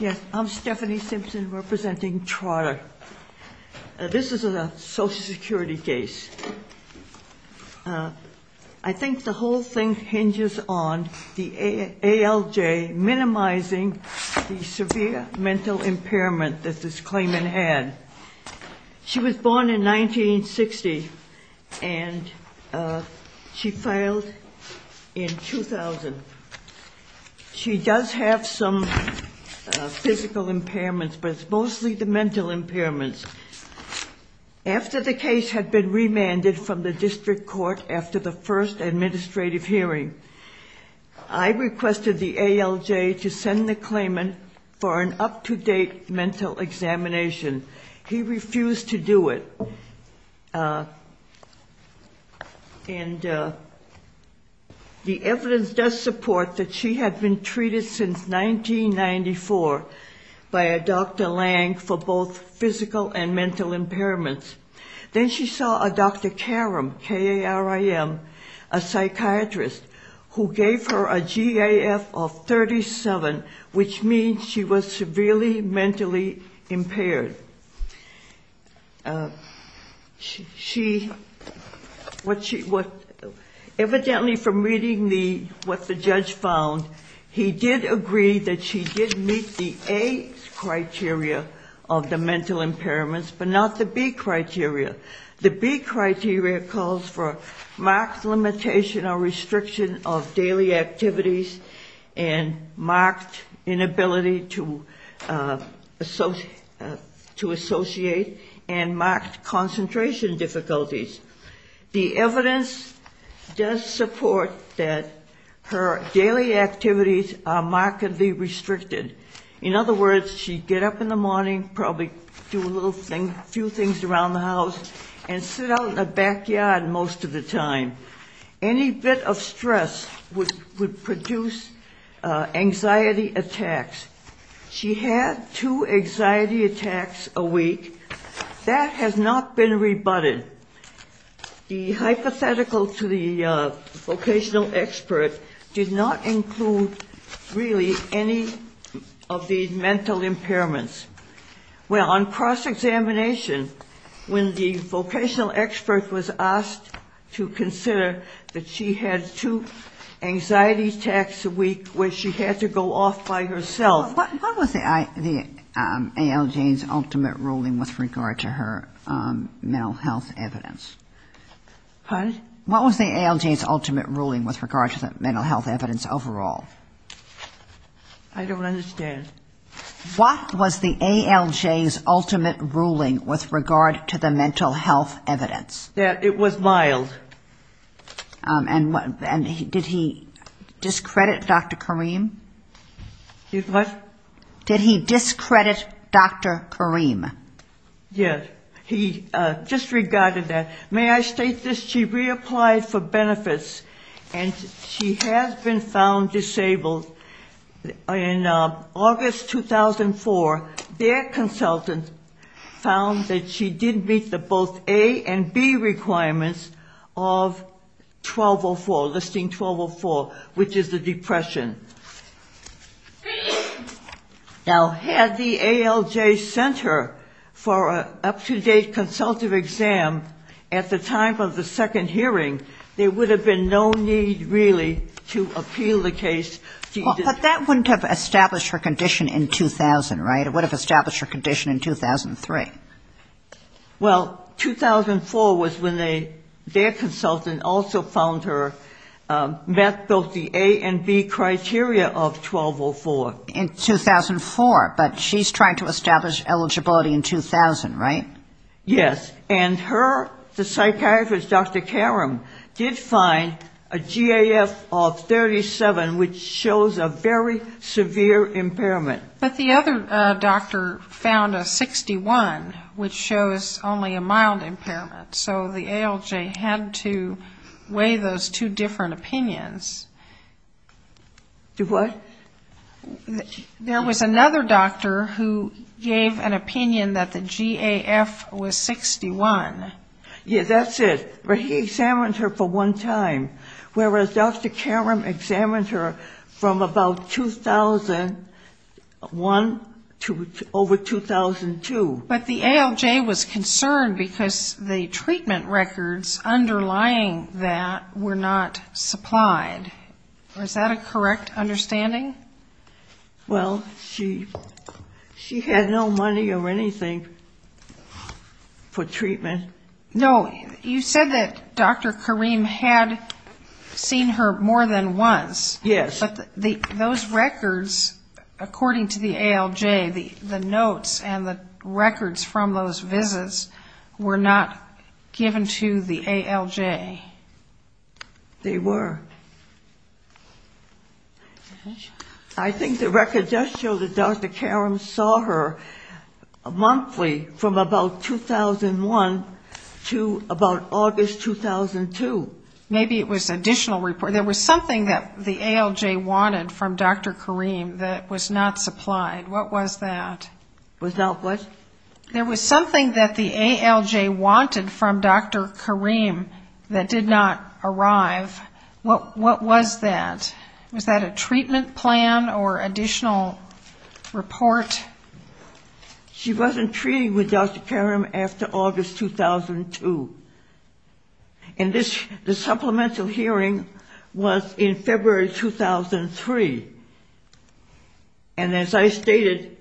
Yes, I'm Stephanie Simpson representing Trotter. This is a Social Security case. I think the whole thing hinges on the ALJ minimizing the severe mental impairment that this claimant had. She was born in 1960 and she filed in 2000. She does have some physical impairments, but it's mostly the mental impairments. After the case had been remanded from the district court after the first administrative hearing, I requested the ALJ to send the claimant for an up-to-date mental examination. He refused to do it. The evidence does support that she had been treated since 1994 by a Dr. Lange for both physical and mental impairments. Then she saw a Dr. Karam, K-A-R-A-M, a psychiatrist, who gave her a GAF of 37, which means she was severely mentally impaired. Evidently from reading what the judge found, he did agree that she did meet the A criteria of the mental impairments, but not the B criteria. The B criteria calls for marked limitation or restriction of daily activities and marked inability to associate and marked concentration difficulties. The evidence does support that her daily activities are markedly restricted. In other words, she'd get up in the morning, probably do a few things around the house, and sit out in the backyard most of the time. Any bit of stress would produce anxiety attacks. She had two anxiety attacks a week. That has not been rebutted. The hypothetical to the vocational expert did not include really any of the mental impairments. Well, on cross-examination, when the vocational expert was asked to consider that she had two anxiety attacks a week where she had to go off by herself. What was the ALJ's ultimate ruling with regard to her mental health evidence? Pardon? What was the ALJ's ultimate ruling with regard to the mental health evidence overall? I don't understand. What was the ALJ's ultimate ruling with regard to the mental health evidence? That it was mild. And did he discredit Dr. Kareem? Did what? Did he discredit Dr. Kareem? Yes. He disregarded that. May I state this? She reapplied for benefits, and she has been found disabled. In August 2004, their consultant found that she did meet the both A and B requirements of 1204, listing 1204, which is the depression. Now, had the ALJ sent her for an up-to-date consultative exam at the time of the second hearing, there would have been no need, really, to appeal the case. But that wouldn't have established her condition in 2000, right? It would have established her condition in 2003. Well, 2004 was when their consultant also found her, met both the A and B criteria of 1204. In 2004. But she's trying to establish eligibility in 2000, right? Yes. And her, the psychiatrist, Dr. Kareem, did find a GAF of 37, which shows a very severe impairment. But the other doctor found a 61, which shows only a mild impairment. So the ALJ had to weigh those two different opinions. The what? There was another doctor who gave an opinion that the GAF was 61. Yes, that's it. But he examined her for one time. Whereas Dr. Kareem examined her from about 2001 to over 2002. But the ALJ was concerned because the treatment records underlying that were not supplied. Is that a correct understanding? Well, she had no money or anything for treatment. No, you said that Dr. Kareem had seen her more than once. Yes. But those records, according to the ALJ, the notes and the records from those visits were not given to the ALJ. They were. I think the records just show that Dr. Kareem saw her monthly from about 2001 to about August 2002. Maybe it was additional reports. There was something that the ALJ wanted from Dr. Kareem that was not supplied. What was that? Was not what? There was something that the ALJ wanted from Dr. Kareem that did not arrive. What was that? Was that a treatment plan or additional report? She wasn't treated with Dr. Kareem after August 2002. And the supplemental hearing was in February 2003. And as I stated,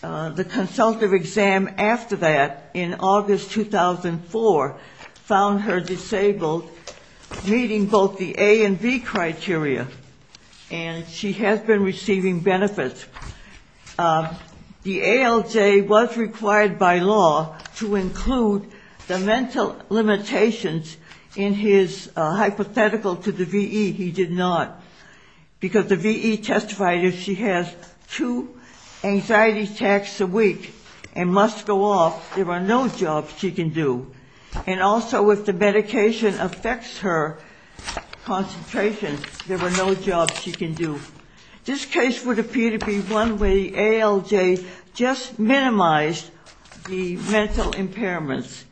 the consultative exam after that in August 2004 found her disabled, meeting both the A and B criteria. And she has been receiving benefits. The ALJ was required by law to include the mental limitations in his hypothetical to the VE. He did not because the VE testified if she has two anxiety attacks a week and must go off, there are no jobs she can do. And also if the medication affects her concentration, there are no jobs she can do. This case would appear to be one where the ALJ just minimized the mental impairments.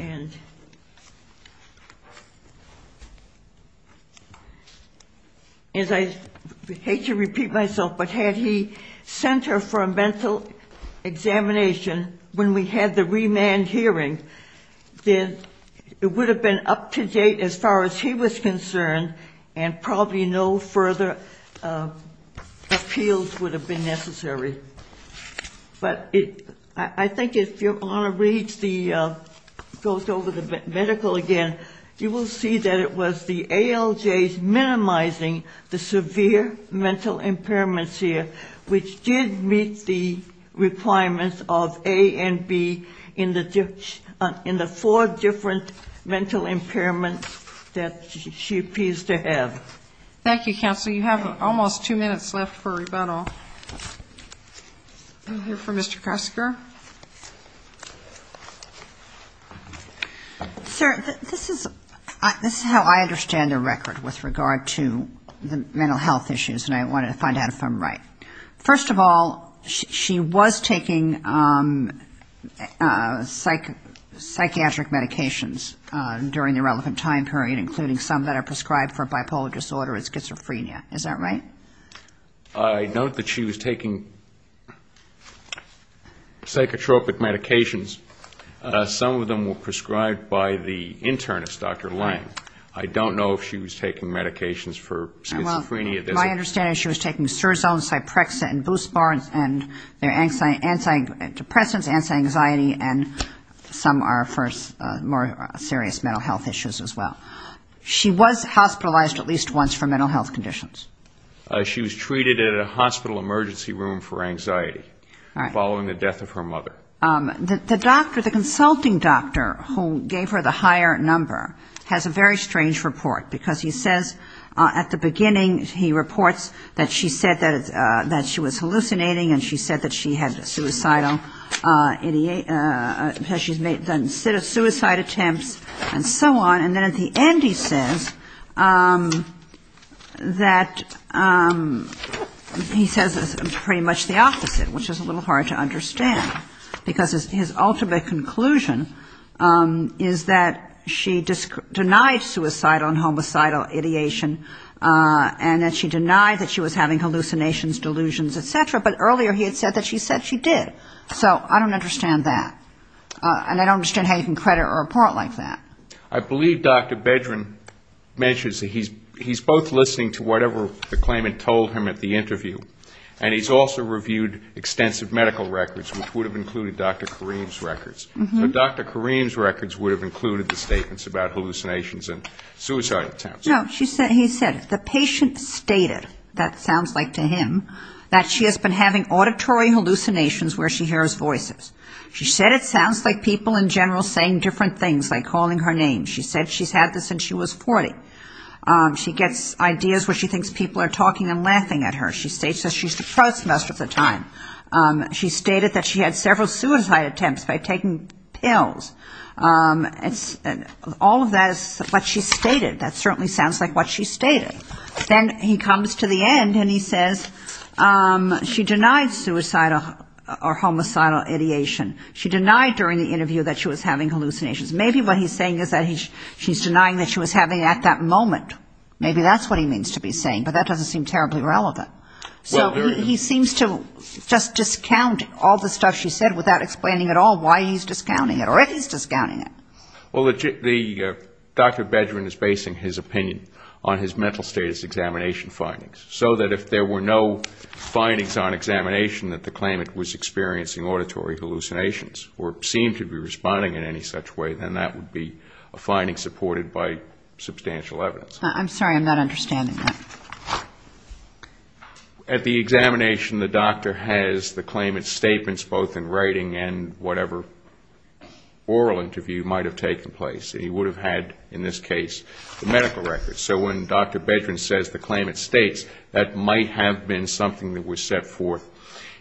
And as I hate to repeat myself, but had he sent her for a mental examination when we had the remand hearing, then it would have been up to date as far as he was concerned and probably no further appeals would have been necessary. But I think if you want to read the medical again, you will see that it was the ALJ's minimizing the severe mental impairments here, which did meet the requirements of A and B in the four different mental impairments that she appears to have. Thank you, counsel. You have almost two minutes left for rebuttal. We'll hear from Mr. Kresger. Sir, this is how I understand the record with regard to the mental health issues, and I wanted to find out if I'm right. First of all, she was taking psychiatric medications during the relevant time period, including some that are prescribed for bipolar disorder and schizophrenia. Is that right? I note that she was taking psychotropic medications. Some of them were prescribed by the internist, Dr. Lang. I don't know if she was taking medications for schizophrenia. My understanding is she was taking surzones, Cyprexa, and Boost-Barnes, and they're antidepressants, anti-anxiety, and some are for more serious mental health issues as well. She was hospitalized at least once for mental health conditions. She was treated in a hospital emergency room for anxiety, following the death of her mother. The doctor, the consulting doctor who gave her the higher number has a very strange report, because he says at the beginning, he said, and he reports, that she said that she was hallucinating and she said that she had suicidal attempts and so on. And then at the end he says that he says pretty much the opposite, which is a little hard to understand, because his ultimate conclusion is that she denied suicidal and homicidal ideation, and that she was hallucinating. She denied that she was having hallucinations, delusions, et cetera, but earlier he had said that she said she did. So I don't understand that, and I don't understand how you can credit a report like that. I believe Dr. Bedrin mentions that he's both listening to whatever the claimant told him at the interview, and he's also reviewed extensive medical records, which would have included Dr. Kareem's records. But Dr. Kareem's records would have included the statements about hallucinations and suicidal attempts. No, he said, the patient stated, that sounds like to him, that she has been having auditory hallucinations where she hears voices. She said it sounds like people in general saying different things, like calling her names. She said she's had this since she was 40. She gets ideas where she thinks people are talking and laughing at her. She states that she's a prostitute at the time. She stated that she had several suicide attempts by taking pills. All of that is what she stated. That certainly sounds like what she stated. Then he comes to the end and he says she denied suicidal or homicidal ideation. She denied during the interview that she was having hallucinations. Maybe what he's saying is that she's denying that she was having it at that moment. Maybe that's what he means to be saying, but that doesn't seem terribly relevant. So he seems to just discount all the stuff she said without explaining at all why he's discounting it or if he's discounting it. Well, the Dr. Bedrin is basing his opinion on his mental status examination findings, so that if there were no findings on examination that the claimant was experiencing auditory hallucinations or seemed to be responding in any such way, then he would have said that. And that would be a finding supported by substantial evidence. I'm sorry, I'm not understanding that. At the examination, the doctor has the claimant's statements both in writing and whatever oral interview might have taken place. He would have had, in this case, the medical records. So when Dr. Bedrin says the claimant states, that might have been something that was set forth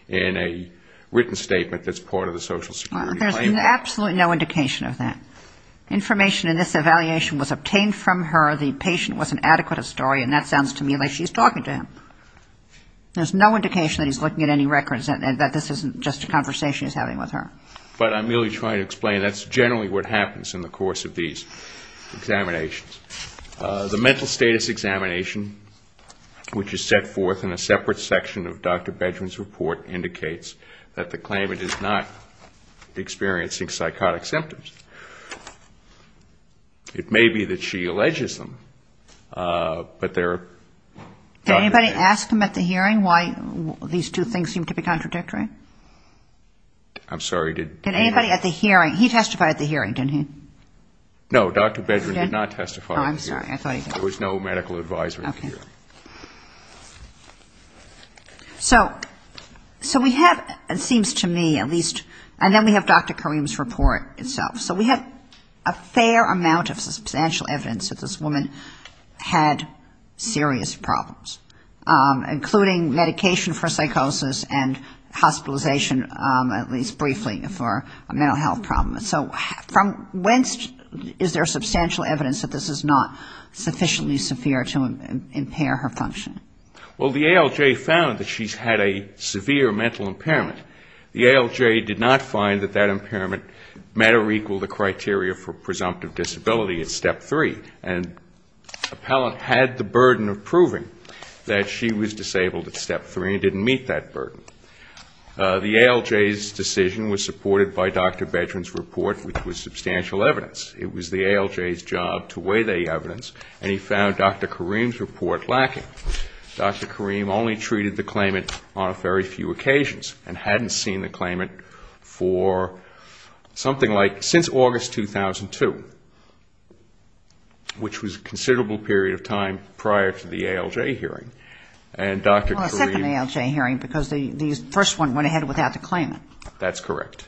in a written statement that's part of the Social Security claim. There's absolutely no indication of that. Information in this evaluation was obtained from her, the patient was an adequate historian. That sounds to me like she's talking to him. There's no indication that he's looking at any records and that this isn't just a conversation he's having with her. But I'm merely trying to explain that's generally what happens in the course of these examinations. The mental status examination, which is set forth in a separate section of Dr. Bedrin's report, indicates that the claimant is not experiencing psychotic symptoms. It may be that she alleges them, but they're not there. Did anybody ask him at the hearing why these two things seem to be contradictory? I'm sorry, did anybody? He testified at the hearing, didn't he? No, Dr. Bedrin did not testify at the hearing. There was no medical advisory here. So we have, it seems to me at least, and then we have Dr. Karim's report itself. So we have a fair amount of substantial evidence that this woman had serious problems, including medication for psychosis and hospitalization, at least briefly, for a mental health problem. So from whence is there substantial evidence that this is not sufficiently severe to impair her function? Well, the ALJ found that she's had a severe mental impairment. The ALJ did not find that that impairment met or equaled the criteria for presumptive disability at Step 3. And the appellant had the burden of proving that she was disabled at Step 3 and didn't meet that burden. The ALJ's decision was supported by Dr. Bedrin's report, which was substantial evidence. It was the ALJ's job to weigh the evidence, and he found Dr. Karim's report lacking. Dr. Karim only treated the claimant on a very few occasions and hadn't seen the claimant for something like since August 2002. Which was a considerable period of time prior to the ALJ hearing. Well, a second ALJ hearing, because the first one went ahead without the claimant. That's correct.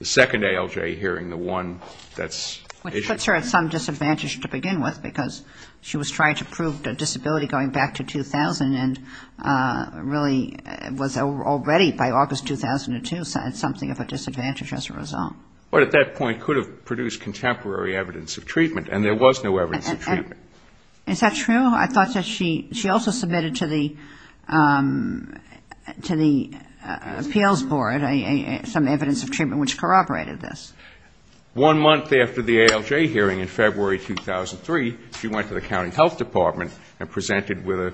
The second ALJ hearing, the one that's issued. Which puts her at some disadvantage to begin with, because she was trying to prove a disability going back to 2000, and really was already by August 2002 something of a disadvantage as a result. But at that point could have produced contemporary evidence of treatment, and there was no evidence of treatment. Is that true? I thought that she also submitted to the appeals board some evidence of treatment, which corroborated this. One month after the ALJ hearing in February 2003, she went to the county health department and presented with a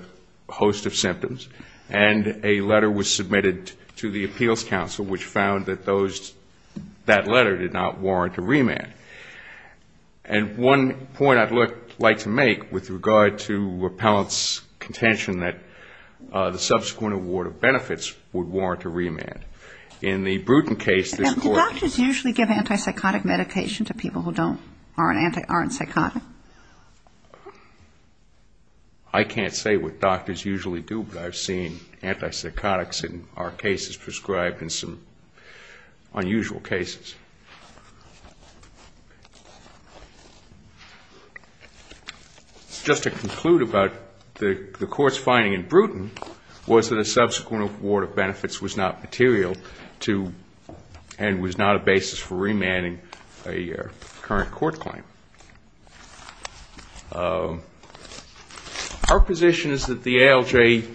host of symptoms, and a letter was submitted to the appeals council, which found that those, that letter did not warrant a remand. And one point I'd like to make with regard to repellent's contention that the subsequent award of benefits would warrant a remand. In the Bruton case this court Did doctors usually give antipsychotic medication to people who aren't psychotic? I can't say what doctors usually do, but I've seen antipsychotics in our cases prescribed in some unusual cases. Just to conclude about the court's finding in Bruton was that a subsequent award of benefits was not material to, and was not a basis for remanding a current court claim. Our position is that the ALJ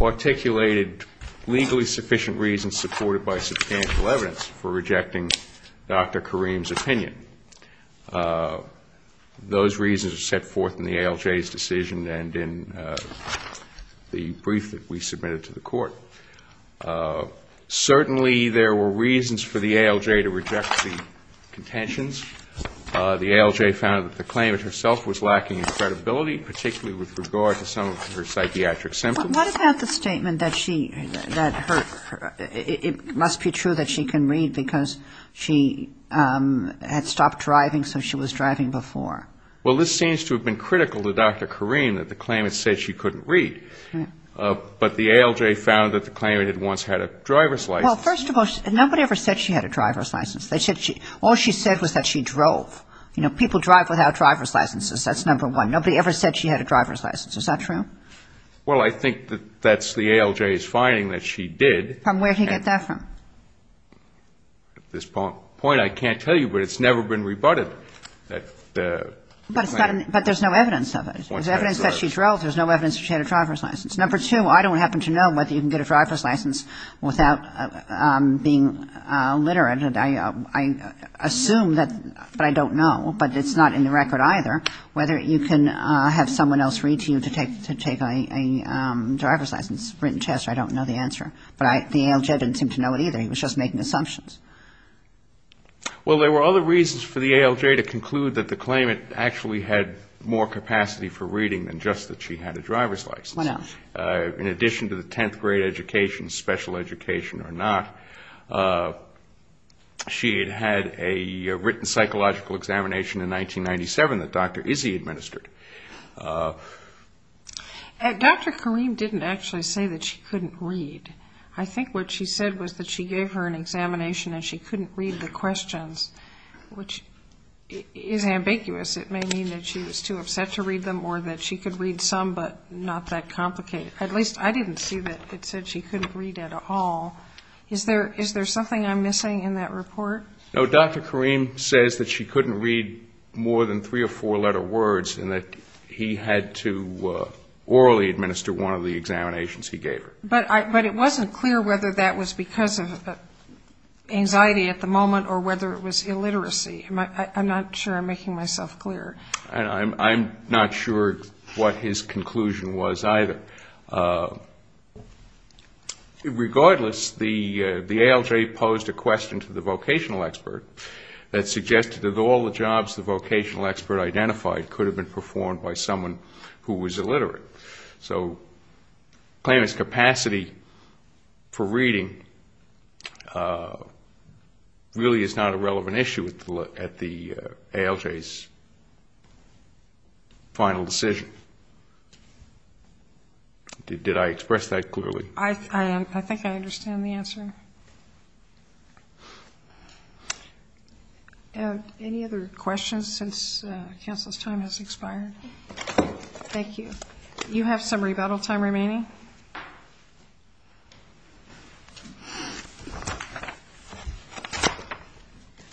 articulated legally sufficient reasons supported by substantial evidence for rejecting Dr. Kareem's opinion. Those reasons are set forth in the ALJ's decision and in the brief that we submitted to the court. Certainly there were reasons for the ALJ to reject the contentions. The ALJ found that the claimant herself was lacking in credibility, particularly with regard to some of her psychiatric symptoms. But what about the statement that she, that her, it must be true that she can read because she had stopped driving, so she was driving before? Well, this seems to have been critical to Dr. Kareem, that the claimant said she couldn't read. But the ALJ found that the claimant had once had a driver's license. Well, first of all, nobody ever said she had a driver's license. All she said was that she drove. You know, people drive without driver's licenses. That's number one. Number two, I don't happen to know whether you can get a driver's license without being literate, and I assume that, but I don't know, but it's not in the record either, whether you can have someone else read to you to take a driver's license written test. I don't know the answer. But the ALJ didn't seem to know it either. He was just making assumptions. Well, there were other reasons for the ALJ to conclude that the claimant actually had more capacity for reading than just that she had a driver's license. In addition to the 10th grade education, special education or not, she had had a written psychological examination in 1997 that Dr. Izzy administered. Dr. Kareem didn't actually say that she couldn't read. I think what she said was that she gave her an examination and she couldn't read the questions, which is ambiguous. It may mean that she was too upset to read them or that she could read some but not that complicated. At least I didn't see that it said she couldn't read at all. Is there something I'm missing in that report? No, Dr. Kareem says that she couldn't read more than three or four-letter words and that he had to orally administer one of the examinations he gave her. But it wasn't clear whether that was because of anxiety at the moment or whether it was illiteracy. I'm not sure I'm making myself clear. And I'm not sure what his conclusion was either. Regardless, the ALJ posed a question to the vocational expert that suggested that all the jobs the vocational expert identified could have been performed by someone who was illiterate. So the claimant's capacity for reading really is not a relevant issue at the moment. And I'm not sure that the ALJ's final decision, did I express that clearly? I think I understand the answer. Any other questions since counsel's time has expired? Thank you. You have some rebuttal time remaining.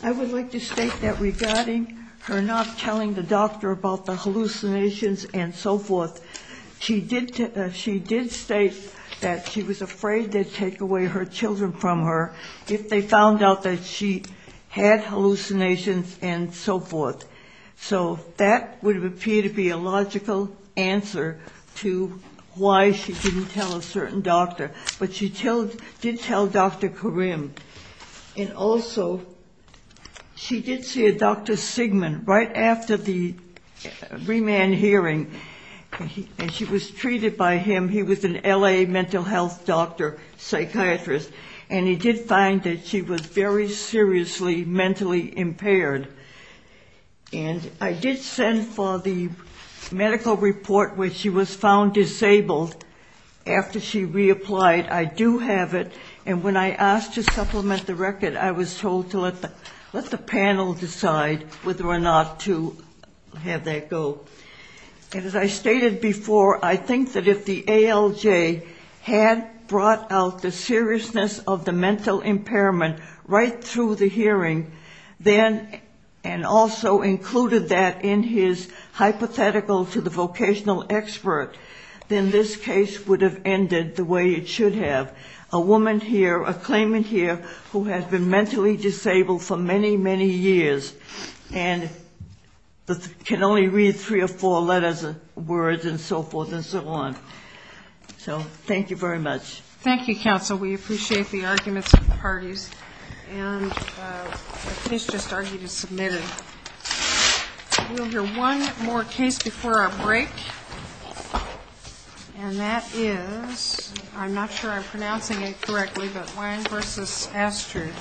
I would like to state that regarding her not telling the doctor about the hallucinations and so forth, she did state that she was afraid they'd take away her children from her if they found out that she had hallucinations and so forth. So that would appear to be a logical answer to why she didn't tell a certain doctor. But she did tell Dr. Karim. And also, she did see a Dr. Sigmund right after the remand hearing. And she was treated by him. He was an L.A. mental health doctor, psychiatrist. And I did send for the medical report where she was found disabled. After she reapplied, I do have it. And when I asked to supplement the record, I was told to let the panel decide whether or not to have that go. And as I stated before, I think that if the ALJ had brought out the seriousness of the mental impairment right through the hearing, then, and also included, that in his hypothetical to the vocational expert, then this case would have ended the way it should have. A woman here, a claimant here, who has been mentally disabled for many, many years. And can only read three or four letters and words and so forth and so on. So thank you very much. Thank you, counsel, we appreciate the arguments of the parties. And the case just argued is submitted. We'll hear one more case before our break. And that is, I'm not sure I'm pronouncing it correctly, but Wang v. Astrid.